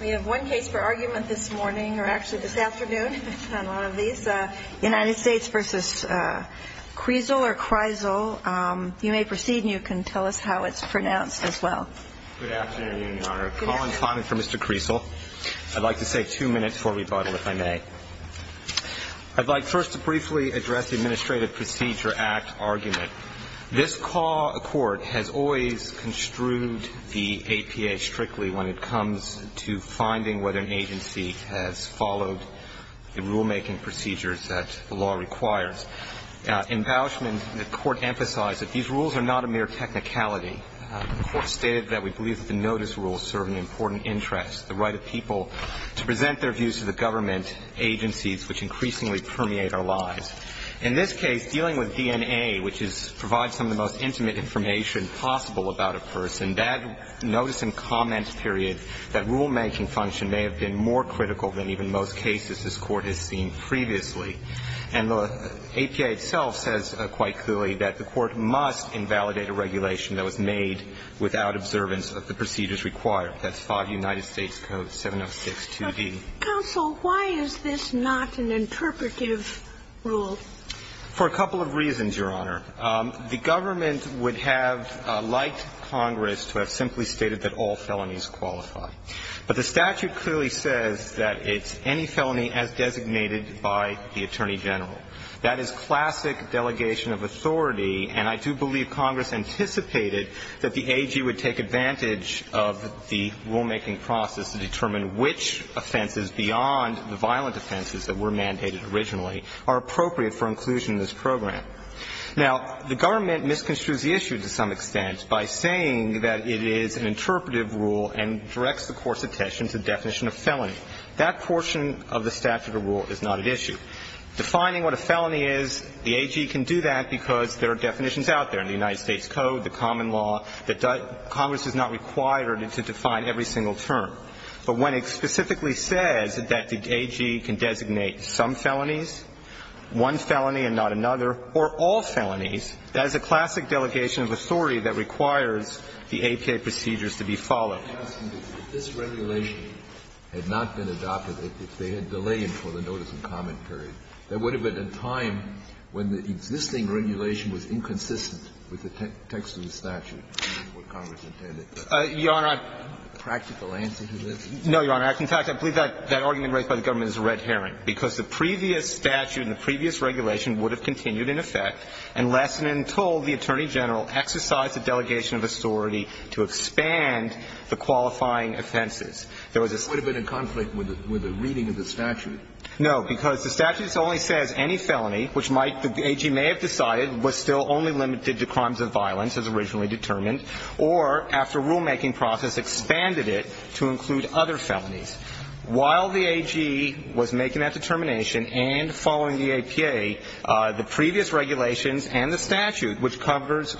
We have one case for argument this morning, or actually this afternoon, on one of these. United States v. Kriesel. You may proceed, and you can tell us how it's pronounced as well. Good afternoon, Your Honor. A call and comment for Mr. Kriesel. I'd like to say two minutes for rebuttal, if I may. I'd like first to briefly address the Administrative Procedure Act argument. This court has always construed the APA strictly when it comes to finding whether an agency has followed the rulemaking procedures that the law requires. In Bauschman, the court emphasized that these rules are not a mere technicality. The court stated that we believe that the notice rules serve an important interest, the right of people to present their views to the government, agencies which increasingly permeate our lives. In this case, dealing with DNA, which provides some of the most intimate information possible about a person, that notice and comment period, that rulemaking function, may have been more critical than even most cases this Court has seen previously. And the APA itself says quite clearly that the Court must invalidate a regulation that was made without observance of the procedures required. That's 5 United States Code 706-2d. Counsel, why is this not an interpretive rule? For a couple of reasons, Your Honor. The government would have liked Congress to have simply stated that all felonies qualify. But the statute clearly says that it's any felony as designated by the Attorney General. That is classic delegation of authority, and I do believe Congress anticipated that the AG would take advantage of the rulemaking process to determine which offenses beyond the violent offenses that were mandated originally are appropriate for inclusion in this program. Now, the government misconstrues the issue to some extent by saying that it is an interpretive rule and directs the Court's attention to the definition of felony. That portion of the statute of rule is not at issue. Defining what a felony is, the AG can do that because there are definitions out there in the United States Code, the common law, that Congress is not required to define every single term. But when it specifically says that the AG can designate some felonies, one felony and not another, or all felonies, that is a classic delegation of authority that requires the APA procedures to be followed. If this regulation had not been adopted, if they had delayed it for the notice and comment period, there would have been a time when the existing regulation was inconsistent with the text of the statute, which is what Congress intended. A practical answer to this? No, Your Honor. In fact, I believe that argument raised by the government is red herring, because the previous statute and the previous regulation would have continued in effect unless and until the Attorney General exercised a delegation of authority to expand the qualifying offenses. There was a statement in the statute. It would have been in conflict with the reading of the statute? No, because the statute only says any felony, which the AG may have decided was still only limited to crimes of violence as originally determined, or after a rulemaking process expanded it to include other felonies. While the AG was making that determination and following the APA, the previous regulations and the statute, which covers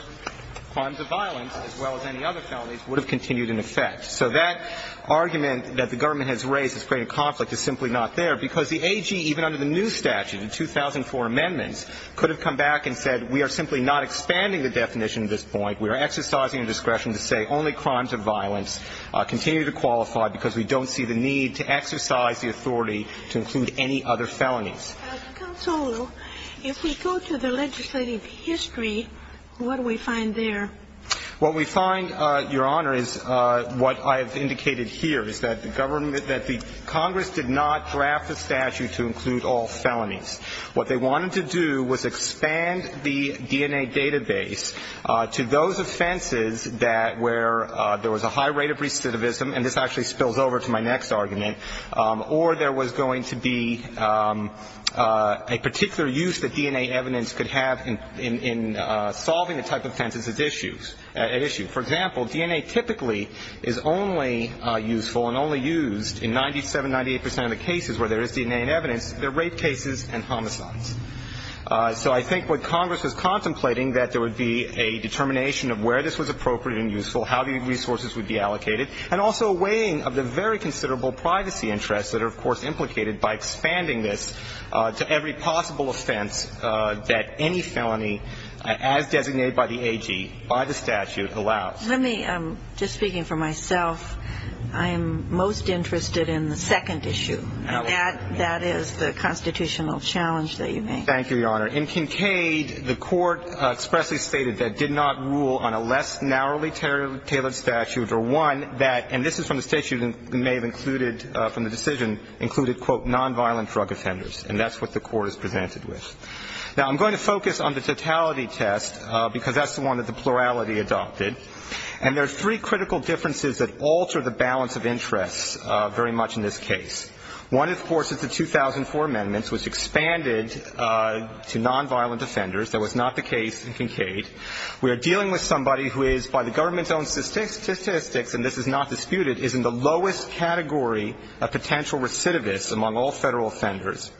crimes of violence as well as any other felonies, would have continued in effect. So that argument that the government has raised has created conflict is simply not there, because the AG, even under the new statute, the 2004 amendments, could have come back and said we are simply not expanding the definition at this point. We are exercising a discretion to say only crimes of violence continue to qualify because we don't see the need to exercise the authority to include any other felonies. Counsel, if we go to the legislative history, what do we find there? What we find, Your Honor, is what I have indicated here, is that the government that the Congress did not draft the statute to include all felonies. What they wanted to do was expand the DNA database to those offenses that where there was a high rate of recidivism, and this actually spills over to my next argument, or there was going to be a particular use that DNA evidence could have in solving the type of offenses at issue. For example, DNA typically is only useful and only used in 97, 98 percent of the cases where there is DNA in evidence that are rape cases and homicides. So I think what Congress was contemplating that there would be a determination of where this was appropriate and useful, how the resources would be allocated, and also a weighing of the very considerable privacy interests that are, of course, implicated by expanding this to every possible offense that any felony, as designated by the AG, by the statute, allows. Let me, just speaking for myself, I am most interested in the second issue, and that is the constitutional challenge that you make. Thank you, Your Honor. In Kincaid, the Court expressly stated that it did not rule on a less narrowly tailored statute or one that, and this is from the state you may have included from the decision, included, quote, nonviolent drug offenders, and that's what the Court has presented with. Now, I'm going to focus on the totality test, because that's the one that the plurality adopted. And there are three critical differences that alter the balance of interests very much in this case. One, of course, is the 2004 amendments, which expanded to nonviolent offenders. That was not the case in Kincaid. We are dealing with somebody who is, by the government's own statistics, and this is not disputed, is in the lowest category of potential recidivists among all Federal offenders.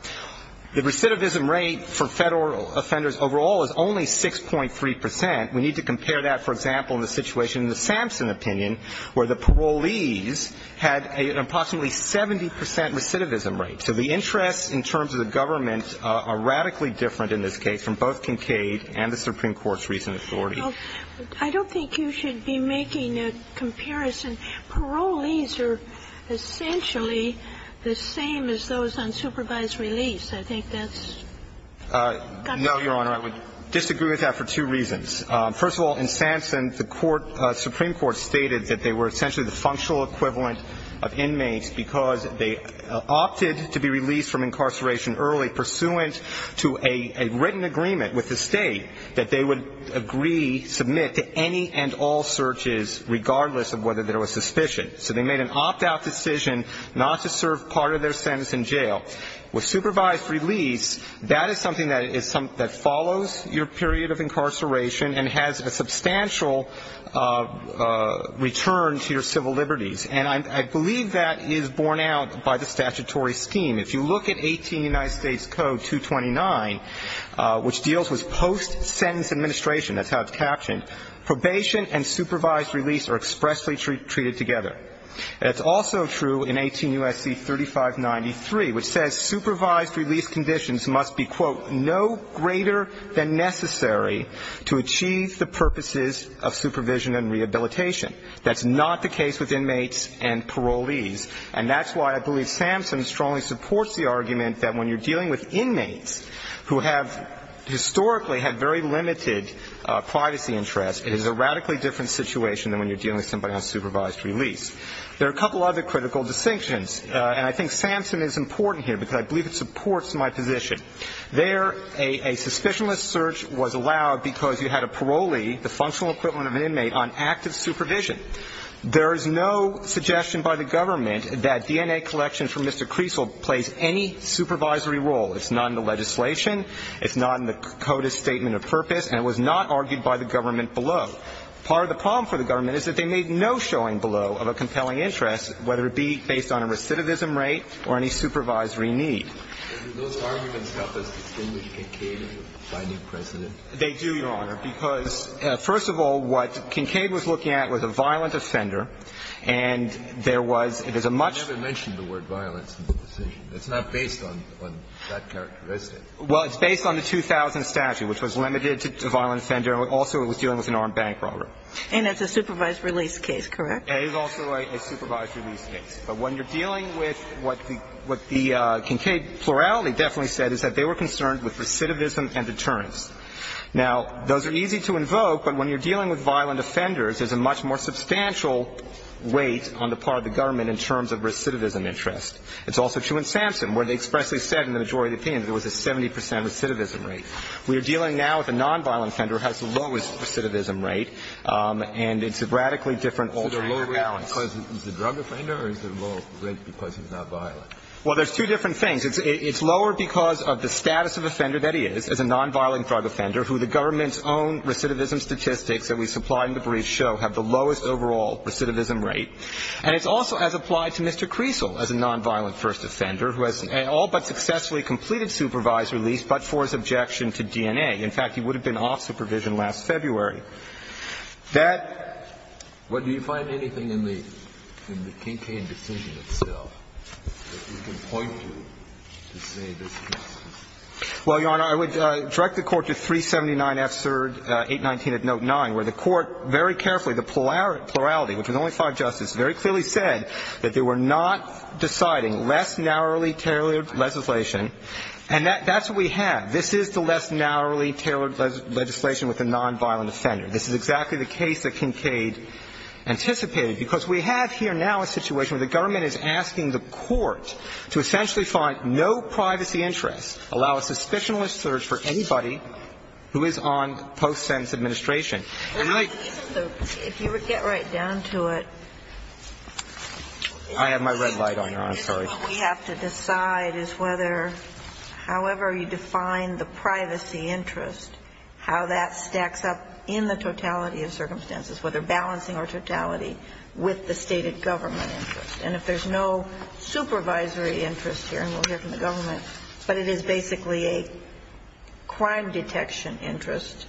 The recidivism rate for Federal offenders overall is only 6.3 percent. We need to compare that, for example, in the situation in the Sampson opinion where the parolees had an approximately 70 percent recidivism rate. So the interests in terms of the government are radically different in this case from both Kincaid and the Supreme Court's recent authority. Well, I don't think you should be making a comparison. Parolees are essentially the same as those on supervised release. I think that's got to be true. No, Your Honor. I would disagree with that for two reasons. First of all, in Sampson, the Supreme Court stated that they were essentially the functional equivalent of inmates because they opted to be released from incarceration early pursuant to a written agreement with the State that they would agree, submit, to any and all searches regardless of whether there was suspicion. So they made an opt-out decision not to serve part of their sentence in jail. With supervised release, that is something that follows your period of incarceration and has a substantial return to your civil liberties. And I believe that is borne out by the statutory scheme. If you look at 18 United States Code 229, which deals with post-sentence administration, that's how it's captioned, probation and supervised release are expressly treated together. And it's also true in 18 U.S.C. 3593, which says supervised release conditions must be, quote, no greater than necessary to achieve the purposes of supervision and rehabilitation. That's not the case with inmates and parolees. And that's why I believe Sampson strongly supports the argument that when you're dealing with somebody with a very limited privacy interest, it is a radically different situation than when you're dealing with somebody on supervised release. There are a couple other critical distinctions, and I think Sampson is important here because I believe it supports my position. There, a suspicionless search was allowed because you had a parolee, the functional equivalent of an inmate, on active supervision. There is no suggestion by the government that DNA collection from Mr. Creasle plays any supervisory role. It's not in the legislation. It's not in the CODIS statement of purpose. And it was not argued by the government below. Part of the problem for the government is that they made no showing below of a compelling interest, whether it be based on a recidivism rate or any supervisory need. Those arguments help us distinguish Kincaid as a binding precedent? They do, Your Honor, because, first of all, what Kincaid was looking at was a violent offender, and there was ñ it is a much ñ You never mentioned the word violence in the decision. It's not based on that characteristic. Well, it's based on the 2000 statute, which was limited to violent offender, and also it was dealing with an armed bank robber. And it's a supervised release case, correct? It is also a supervised release case. But when you're dealing with what the ñ what the Kincaid plurality definitely said is that they were concerned with recidivism and deterrence. Now, those are easy to invoke, but when you're dealing with violent offenders, there's a much more substantial weight on the part of the government in terms of recidivism interest. It's also true in Sampson, where they expressly said in the majority of the opinion that there was a 70 percent recidivism rate. We are dealing now with a nonviolent offender who has the lowest recidivism rate, and it's a radically different alternative balance. Is it lower because he's a drug offender or is it lower because he's not violent? Well, there's two different things. It's lower because of the status of the offender that he is, as a nonviolent drug offender, who the government's own recidivism statistics that we supplied in the brief show have the lowest overall recidivism rate. And it's also as applied to Mr. Creasle as a nonviolent first offender who has all but successfully completed supervised release but for his objection to DNA. In fact, he would have been off supervision last February. That do you find anything in the Kinkade decision itself that you can point to to say this is not? Well, Your Honor, I would direct the Court to 379 F. 9, where the Court very carefully, the plurality, which was only five justices, very clearly said that they were not deciding less narrowly tailored legislation and that's what we have. This is the less narrowly tailored legislation with the nonviolent offender. This is exactly the case that Kinkade anticipated because we have here now a situation where the government is asking the Court to essentially find no privacy interest, allow a suspicionless search for anybody who is on post-sense administration. If you would get right down to it. I have my red light on, Your Honor. I'm sorry. What we have to decide is whether, however you define the privacy interest, how that stacks up in the totality of circumstances, whether balancing or totality with the stated government interest. And if there's no supervisory interest here, and we'll hear from the government, but it is basically a crime detection interest,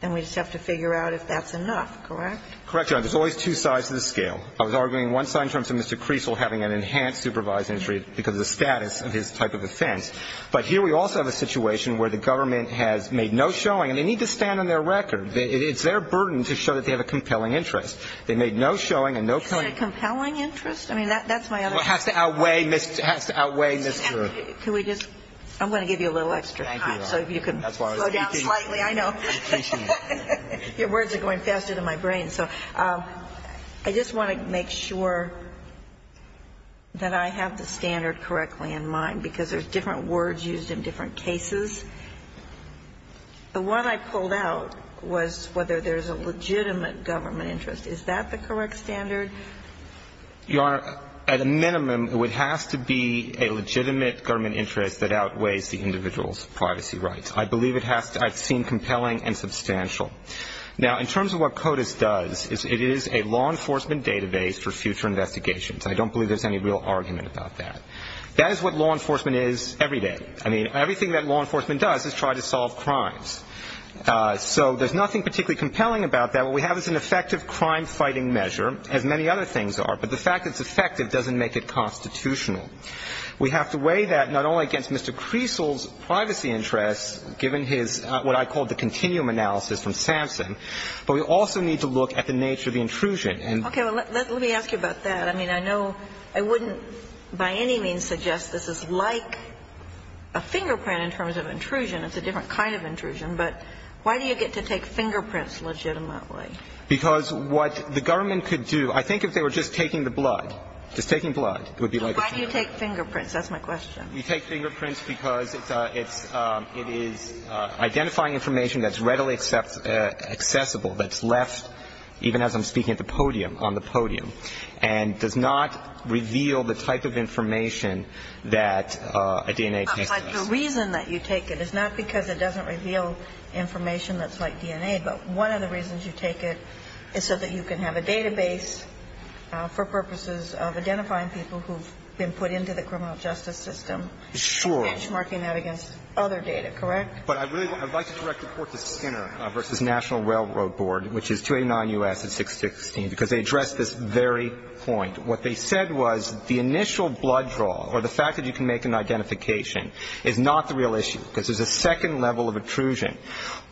then we just have to figure out if that's enough, correct? Correct, Your Honor. There's always two sides to the scale. I was arguing one side in terms of Mr. Creasle having an enhanced supervisory interest because of the status of his type of offense. But here we also have a situation where the government has made no showing, and they need to stand on their record. It's their burden to show that they have a compelling interest. They made no showing and no compelling interest. Is it a compelling interest? I mean, that's my other question. Well, it has to outweigh, it has to outweigh Mr. Can we just? I'm going to give you a little extra time so you can slow down slightly. I know. I appreciate it. Your words are going faster than my brain. So I just want to make sure that I have the standard correctly in mind because there's different words used in different cases. The one I pulled out was whether there's a legitimate government interest. Is that the correct standard? Your Honor, at a minimum, it has to be a legitimate government interest that outweighs the individual's privacy rights. I believe it has to, I've seen compelling and substantial. Now, in terms of what CODIS does, it is a law enforcement database for future investigations. I don't believe there's any real argument about that. That is what law enforcement is every day. I mean, everything that law enforcement does is try to solve crimes. So there's nothing particularly compelling about that. Now, what we have is an effective crime-fighting measure, as many other things are. But the fact it's effective doesn't make it constitutional. We have to weigh that not only against Mr. Creasle's privacy interests, given his what I call the continuum analysis from Samson, but we also need to look at the nature of the intrusion. Okay. Well, let me ask you about that. I mean, I know I wouldn't by any means suggest this is like a fingerprint in terms of intrusion. It's a different kind of intrusion. But why do you get to take fingerprints legitimately? Because what the government could do, I think if they were just taking the blood, just taking blood, it would be like a fingerprint. Why do you take fingerprints? That's my question. We take fingerprints because it's identifying information that's readily accessible, that's left, even as I'm speaking at the podium, on the podium, and does not reveal the type of information that a DNA test does. The reason that you take it is not because it doesn't reveal information that's like DNA. But one of the reasons you take it is so that you can have a database for purposes of identifying people who've been put into the criminal justice system. Sure. Benchmarking that against other data, correct? But I'd like to direct the Court to Skinner v. National Railroad Board, which is 289 U.S. at 616, because they addressed this very point. What they said was the initial blood draw, or the fact that you can make an identification, is not the real issue, because there's a second level of intrusion.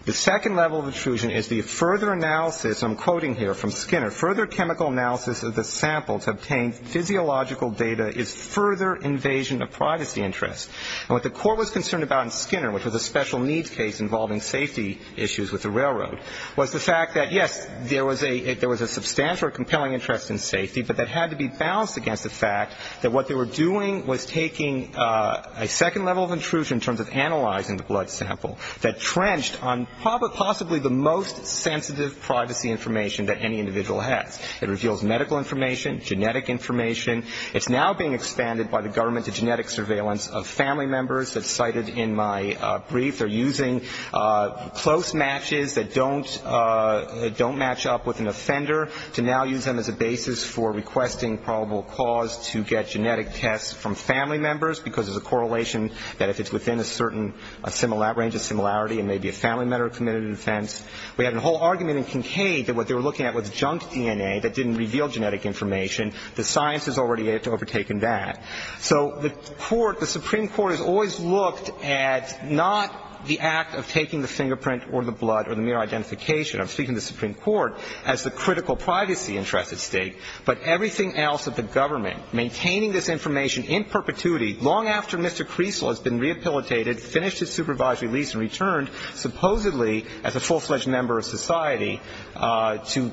The second level of intrusion is the further analysis, I'm quoting here from Skinner, further chemical analysis of the sample to obtain physiological data is further invasion of privacy interest. And what the Court was concerned about in Skinner, which was a special needs case involving safety issues with the railroad, was the fact that, yes, there was a substantial or compelling interest in safety, but that had to be balanced against the fact that what they were doing was taking a second level of intrusion in terms of analyzing the blood sample that trenched on possibly the most sensitive privacy information that any individual has. It reveals medical information, genetic information. It's now being expanded by the government to genetic surveillance of family members, as cited in my brief. They're using close matches that don't match up with an offender to now use them as a basis for requesting probable cause to get genetic tests from family members, because there's a correlation that if it's within a range of similarity, it may be a family member committed an offense. We had a whole argument in Kincaid that what they were looking at was junk DNA that didn't reveal genetic information. The science has already overtaken that. So the court, the Supreme Court, has always looked at not the act of taking the fingerprint or the blood or the mere identification, I'm speaking of the Supreme Court, as the critical privacy interest at stake, but everything else that the government, maintaining this information in perpetuity long after Mr. Creasle has been rehabilitated, finished his supervisory lease, and returned, supposedly as a full-fledged member of society, to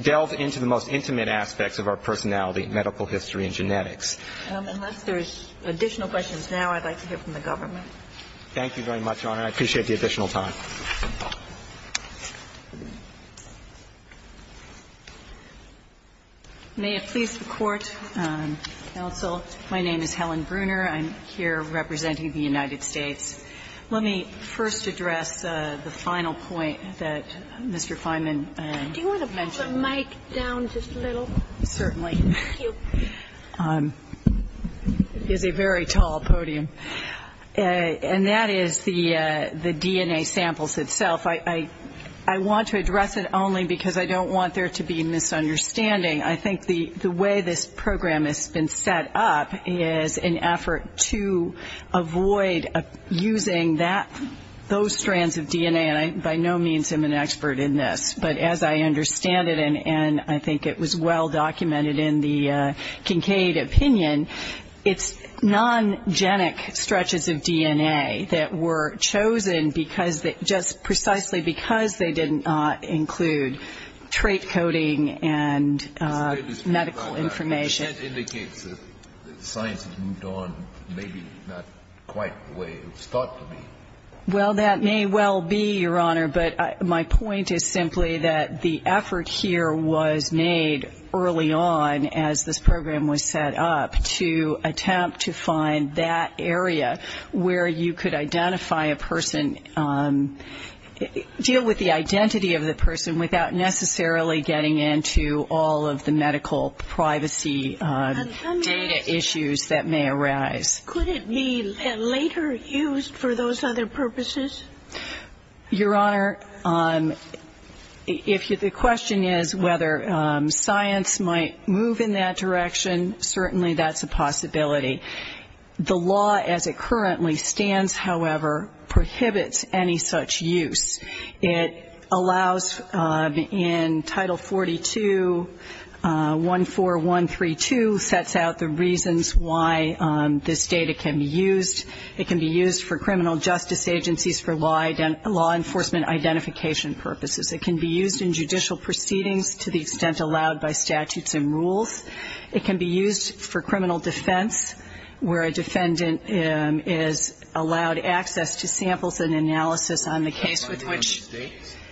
delve into the most intimate aspects of our personality, medical history, and genetics. Unless there's additional questions now, I'd like to hear from the government. Thank you very much, Your Honor. I appreciate the additional time. May it please the Court, counsel. My name is Helen Bruner. I'm here representing the United States. Let me first address the final point that Mr. Fineman mentioned. Do you want to move the mic down just a little? Certainly. Thank you. It is a very tall podium. And that is the DNA samples itself. I want to address it only because I don't want there to be misunderstanding. I think the way this program has been set up is an effort to avoid using those strands of DNA, and by no means am I an expert in this. But as I understand it, and I think it was well documented in the Kincaid opinion, it's non-genic stretches of DNA that were chosen just precisely because they did not include trait coding and medical information. That indicates that science has moved on, maybe not quite the way it was thought to be. Well, that may well be, Your Honor, but my point is simply that the effort here was made early on as this program was set up to attempt to find that area where you could identify a person, deal with the identity of the person without necessarily getting into all of the medical privacy data issues that may arise. Could it be later used for those other purposes? Your Honor, if the question is whether science might move in that direction, certainly that's a possibility. The law as it currently stands, however, prohibits any such use. It allows in Title 42, 14132, sets out the reasons why this data can be used. It can be used for criminal justice agencies for law enforcement identification purposes. It can be used in judicial proceedings to the extent allowed by statutes and rules. It can be used for criminal defense where a defendant is allowed access to samples and analysis on the case with which.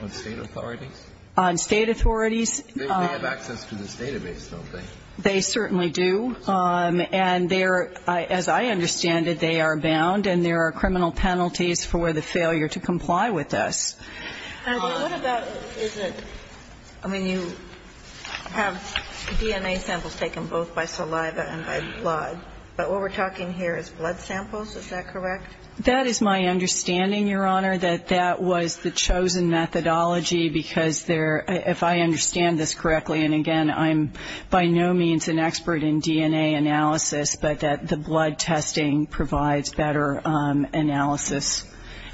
On state authorities? On state authorities. They have access to this database, don't they? They certainly do. And they're, as I understand it, they are bound, and there are criminal penalties for the failure to comply with this. What about, is it, I mean, you have DNA samples taken both by saliva and by blood, but what we're talking here is blood samples, is that correct? That is my understanding, Your Honor, that that was the chosen methodology because there, if I understand this correctly, and, again, I'm by no means an expert in DNA analysis, but that the blood testing provides better analysis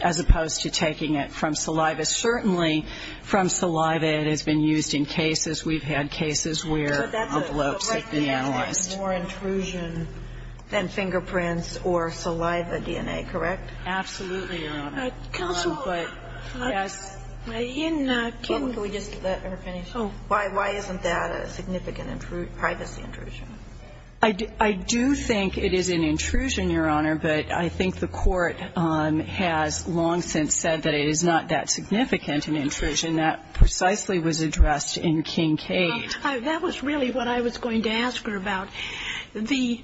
as opposed to taking it from saliva. Certainly from saliva it has been used in cases. We've had cases where the bloats have been analyzed. There is more intrusion than fingerprints or saliva DNA, correct? Absolutely, Your Honor. Counsel, I'm not kidding. Can we just let her finish? Why isn't that a significant privacy intrusion? I do think it is an intrusion, Your Honor, but I think the Court has long since said that it is not that significant an intrusion. That precisely was addressed in Kincaid. That was really what I was going to ask her about. The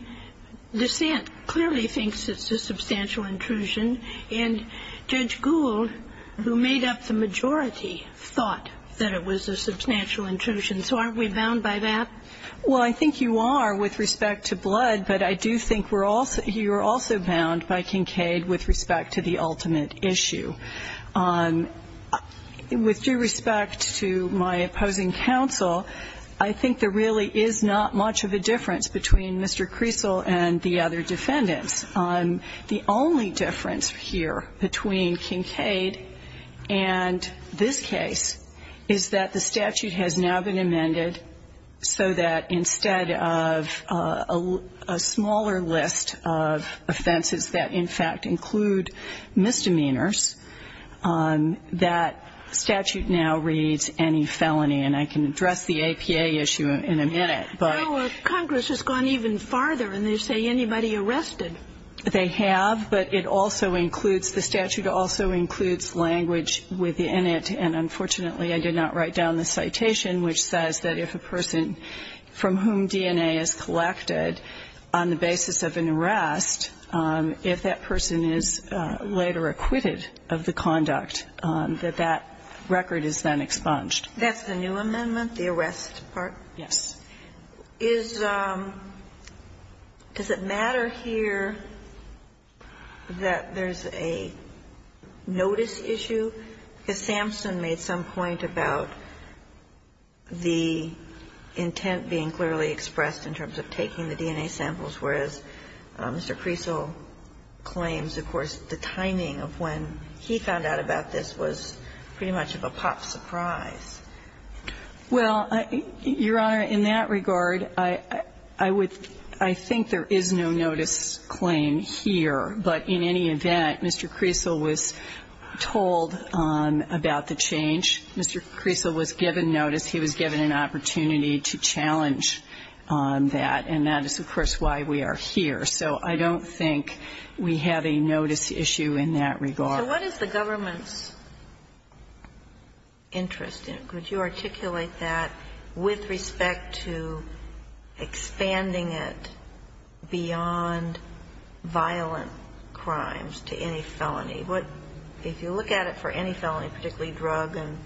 dissent clearly thinks it's a substantial intrusion, and Judge Gould, who made up the majority, thought that it was a substantial intrusion. So aren't we bound by that? Well, I think you are with respect to blood, but I do think you are also bound by Kincaid with respect to the ultimate issue. With due respect to my opposing counsel, I think there really is not much of a difference between Mr. Creasle and the other defendants. The only difference here between Kincaid and this case is that the statute has now been amended so that instead of a smaller list of offenses that in fact include misdemeanors, that statute now reads any felony. And I can address the APA issue in a minute. Congress has gone even farther, and they say anybody arrested. They have, but it also includes, the statute also includes language within it, and unfortunately I did not write down the citation, which says that if a person from whom DNA is collected on the basis of an arrest, if that person is later acquitted of the conduct, that that record is then expunged. That's the new amendment, the arrest part? Yes. Does it matter here that there's a notice issue? Because Samson made some point about the intent being clearly expressed in terms of taking the DNA samples, whereas Mr. Creasle claims, of course, the timing of when he found out about this was pretty much of a pop surprise. Well, Your Honor, in that regard, I would – I think there is no notice claim here, but in any event, Mr. Creasle was told about the change. Mr. Creasle was given notice. He was given an opportunity to challenge that, and that is, of course, why we are here. So I don't think we have a notice issue in that regard. So what is the government's interest in it? Could you articulate that with respect to expanding it beyond violent crimes to any felony? If you look at it for any felony, particularly drug and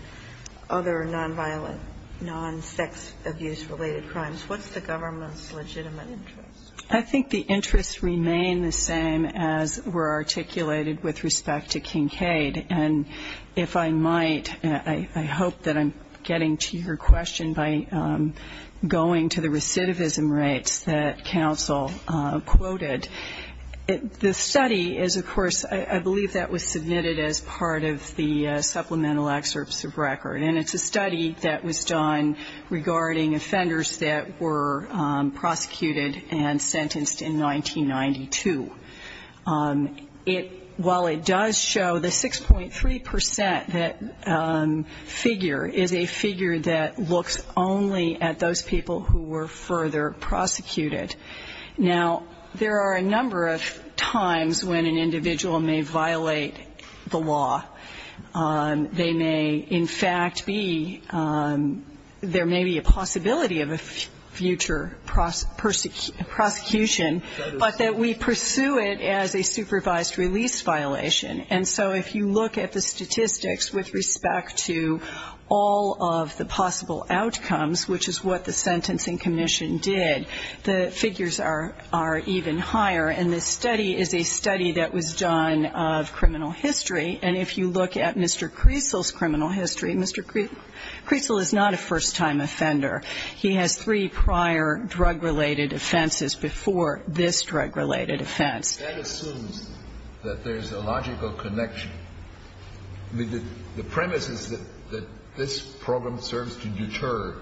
other non-violent, non-sex abuse-related crimes, what's the government's legitimate interest? I think the interests remain the same as were articulated with respect to Kincaid. And if I might, I hope that I'm getting to your question by going to the recidivism rates that counsel quoted. The study is, of course, I believe that was submitted as part of the supplemental excerpts of record, and it's a study that was done regarding offenders that were prosecuted and sentenced in 1992. While it does show the 6.3% figure is a figure that looks only at those people who were further prosecuted. Now, there are a number of times when an individual may violate the law. They may in fact be, there may be a possibility of a future prosecution, but that we pursue it as a supervised release violation. And so if you look at the statistics with respect to all of the possible outcomes, which is what the Sentencing Commission did, the figures are even higher. And this study is a study that was done of criminal history. And if you look at Mr. Creasle's criminal history, Mr. Creasle is not a first-time offender. He has three prior drug-related offenses before this drug-related offense. That assumes that there's a logical connection. The premise is that this program serves to deter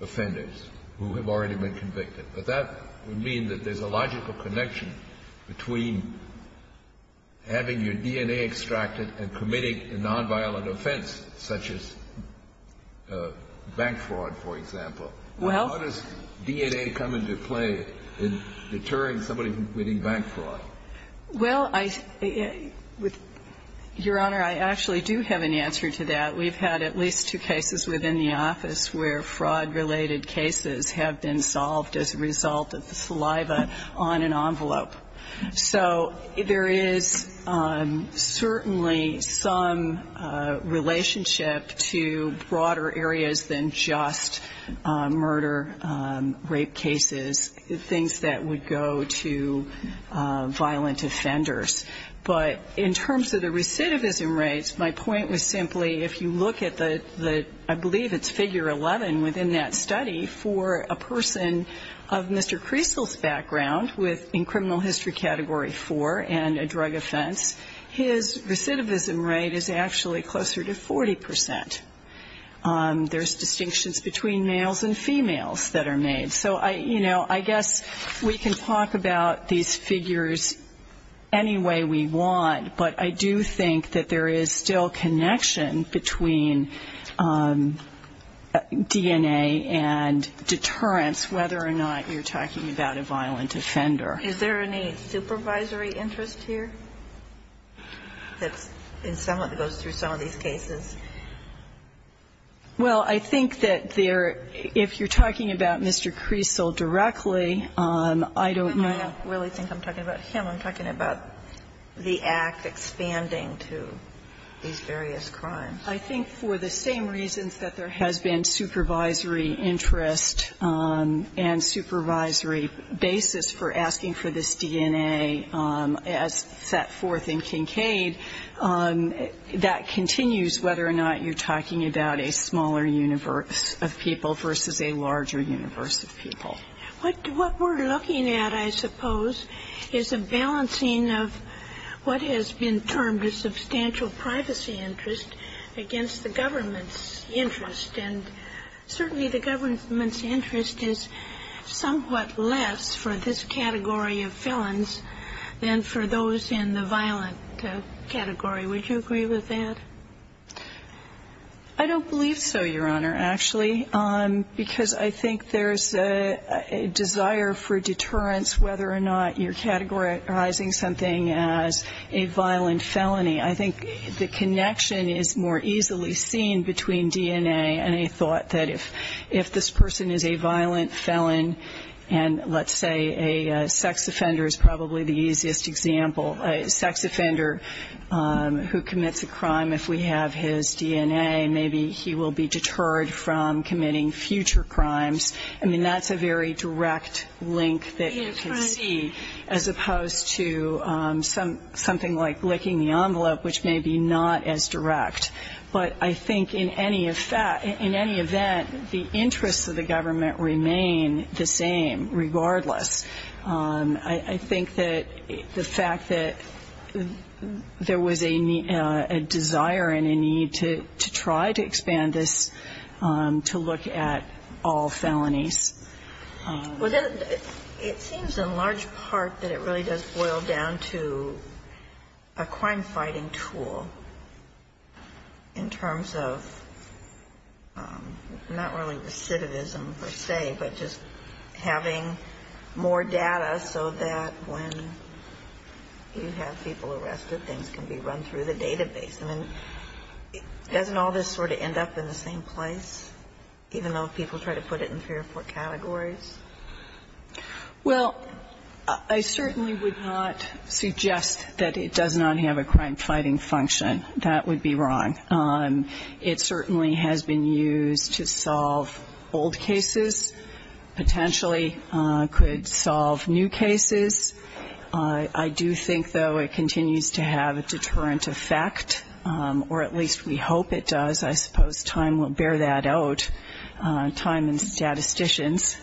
offenders who have already been convicted. But that would mean that there's a logical connection between having your DNA extracted and committing a nonviolent offense such as bank fraud, for example. How does DNA come into play in deterring somebody from committing bank fraud? Well, Your Honor, I actually do have an answer to that. We've had at least two cases within the office where fraud-related cases have been solved as a result of the saliva on an envelope. So there is certainly some relationship to broader areas than just murder, rape cases, things that would go to violent offenders. But in terms of the recidivism rates, my point was simply if you look at the, I believe it's Figure 11 within that study, for a person of Mr. Creasle's background in criminal history Category 4 and a drug offense, his recidivism rate is actually closer to 40%. There's distinctions between males and females that are made. So, you know, I guess we can talk about these figures any way we want, but I do think that there is still connection between DNA and deterrence whether or not you're talking about a violent offender. Is there any supervisory interest here that goes through some of these cases? Well, I think that there, if you're talking about Mr. Creasle directly, I don't know. I don't really think I'm talking about him. I'm talking about the Act expanding to these various crimes. I think for the same reasons that there has been supervisory interest and supervisory basis for asking for this DNA as set forth in Kincaid, that continues whether or not you're talking about a smaller universe of people versus a larger universe of people. What we're looking at, I suppose, is a balancing of what has been termed a substantial privacy interest against the government's interest. And certainly the government's interest is somewhat less for this category of felons than for those in the violent category. Would you agree with that? I don't believe so, Your Honor, actually, because I think there's a desire for deterrence whether or not you're categorizing something as a violent felony. I think the connection is more easily seen between DNA and a thought that if this person is a violent felon and let's say a sex offender is probably the easiest example, a sex offender who commits a crime, if we have his DNA, maybe he will be deterred from committing future crimes. I mean, that's a very direct link that you can see as opposed to something like licking the envelope, which may be not as direct. But I think in any event, the interests of the government remain the same regardless. I think that the fact that there was a desire and a need to try to expand this to look at all felonies. Well, it seems in large part that it really does boil down to a crime-fighting tool in terms of not really recidivism, per se, but just having more data so that when you have people arrested, things can be run through the database. I mean, doesn't all this sort of end up in the same place, even though people try to put it in three or four categories? Well, I certainly would not suggest that it does not have a crime-fighting function. That would be wrong. It certainly has been used to solve old cases, potentially could solve new cases. I do think, though, it continues to have a deterrent effect, or at least we hope it does. I suppose time will bear that out, time and statisticians.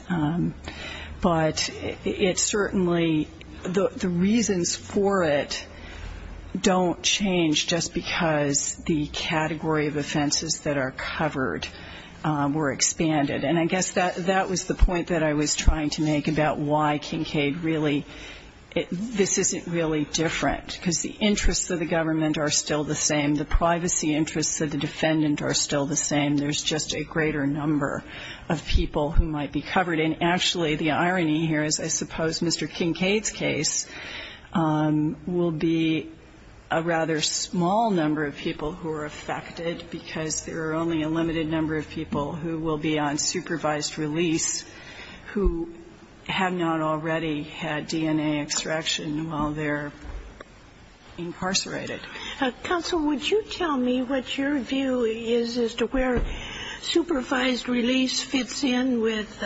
But it certainly, the reasons for it don't change just because the category of offenses that are covered were expanded. And I guess that was the point that I was trying to make about why Kincaid really, this isn't really different, because the interests of the government are still the same, the privacy interests of the defendant are still the same. There's just a greater number of people who might be covered. And actually, the irony here is I suppose Mr. Kincaid's case will be a rather small number of people who are affected, because there are only a limited number of people who will be on supervised release who have not already had DNA extraction while they're incarcerated. Counsel, would you tell me what your view is as to where supervised release fits in with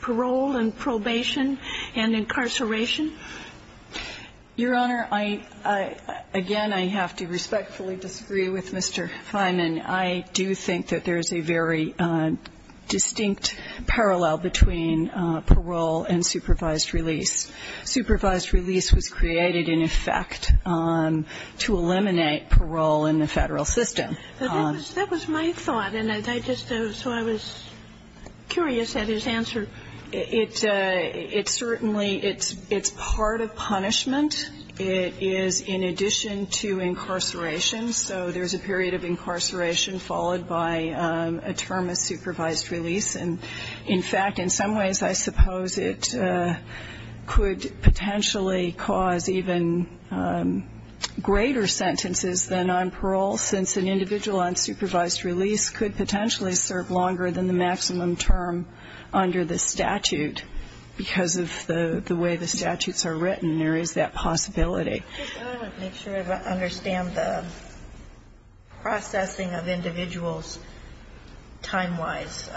parole and probation and incarceration? Your Honor, again, I have to respectfully disagree with Mr. Fineman. I do think that there is a very distinct parallel between parole and supervised release. Supervised release was created, in effect, to eliminate parole in the Federal system. But that was my thought, and I just, so I was curious at his answer. It certainly, it's part of punishment. It is in addition to incarceration. So there's a period of incarceration followed by a term of supervised release. And, in fact, in some ways, I suppose it could potentially cause even greater sentences than on parole, since an individual on supervised release could potentially serve longer than the maximum term under the statute. Because of the way the statutes are written, there is that possibility. I want to make sure I understand the processing of individuals time-wise.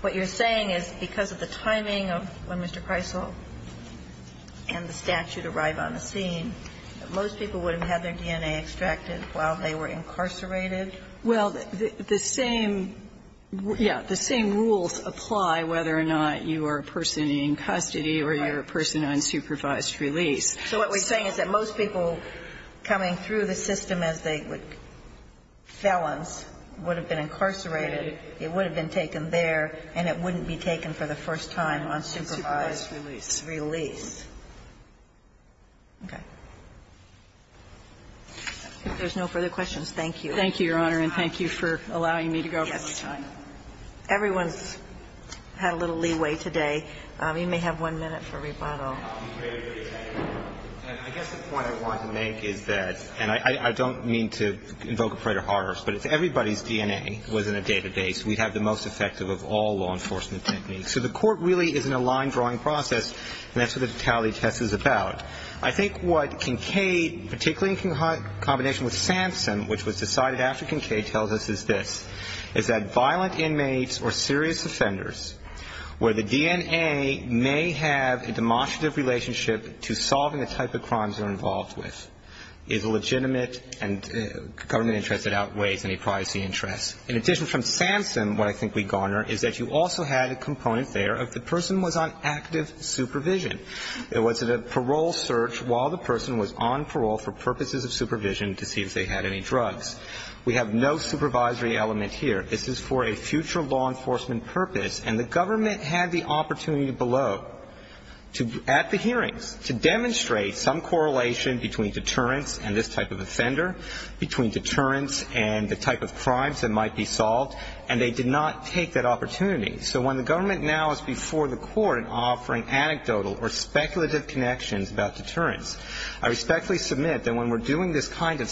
What you're saying is because of the timing of when Mr. Preissl and the statute arrived on the scene, that most people would have had their DNA extracted while they were incarcerated? Well, the same, yes, the same rules apply whether or not you are a person in custody or you're a person on supervised release. So what we're saying is that most people coming through the system as they would felons would have been incarcerated, it would have been taken there, and it wouldn't be taken for the first time on supervised release. Okay. If there's no further questions, thank you. Thank you, Your Honor, and thank you for allowing me to go. Yes. Everyone's had a little leeway today. You may have one minute for rebuttal. I guess the point I want to make is that, and I don't mean to invoke a prayer to horrors, but if everybody's DNA was in a database, we'd have the most effective of all law enforcement techniques. So the court really is in a line-drawing process, and that's what the totality test is about. I think what Kincaid, particularly in combination with Sampson, which was decided after Kincaid, tells us is this, is that violent inmates or serious offenders where the DNA may have a demonstrative relationship to solving the type of crimes they're involved with is a legitimate and government interest that outweighs any privacy interest. In addition from Sampson, what I think we garner is that you also had a component there of the person was on active supervision. It was a parole search while the person was on parole for purposes of supervision to see if they had any drugs. We have no supervisory element here. This is for a future law enforcement purpose, and the government had the opportunity below, at the hearings, to demonstrate some correlation between deterrence and this type of offender, between deterrence and the type of crimes that might be solved, and they did not take that opportunity. So when the government now is before the court offering anecdotal or speculative connections about deterrence, I respectfully submit that when we're doing this kind of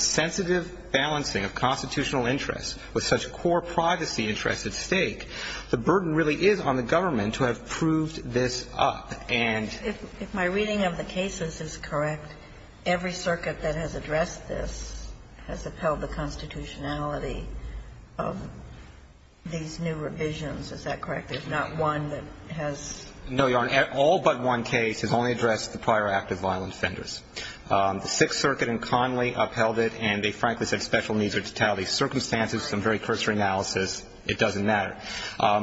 balancing of constitutional interests with such core privacy interests at stake, the burden really is on the government to have proved this up. And my reading of the cases is correct. Every circuit that has addressed this has upheld the constitutionality of these new revisions. Is that correct? There's not one that has? No, Your Honor. All but one case has only addressed the prior act of violent offenders. The Sixth Circuit in Connolly upheld it, and they frankly said special needs are to tally. Circumstances, some very cursory analysis, it doesn't matter.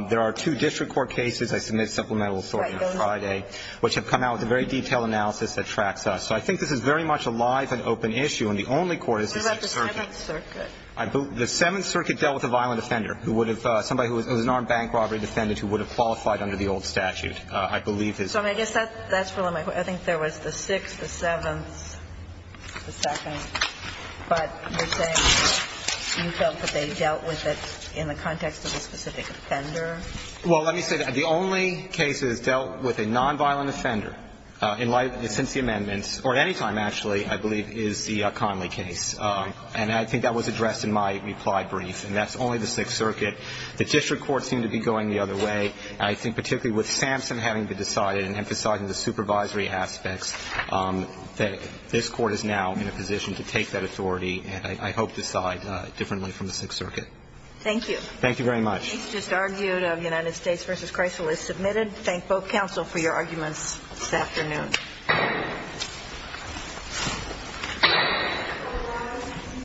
There are two district court cases I submit supplemental authority on Friday, which have come out with a very detailed analysis that tracks us. So I think this is very much a live and open issue, and the only court is the Sixth Circuit. What about the Seventh Circuit? The Seventh Circuit dealt with a violent offender who would have – somebody who was an armed bank robbery defendant who would have qualified under the old statute, I believe. So I guess that's really my point. I think there was the Sixth, the Seventh, the Second. But you're saying you felt that they dealt with it in the context of a specific offender? Well, let me say that. The only case that has dealt with a nonviolent offender in light – since the amendments or at any time, actually, I believe, is the Connolly case. And I think that was addressed in my reply brief. And that's only the Sixth Circuit. The district courts seem to be going the other way. I think particularly with Sampson having to decide and emphasizing the supervisory aspects, that this court is now in a position to take that authority and, I hope, decide differently from the Sixth Circuit. Thank you. Thank you very much. The case just argued of United States v. Chrysler is submitted. Thank both counsel for your arguments this afternoon.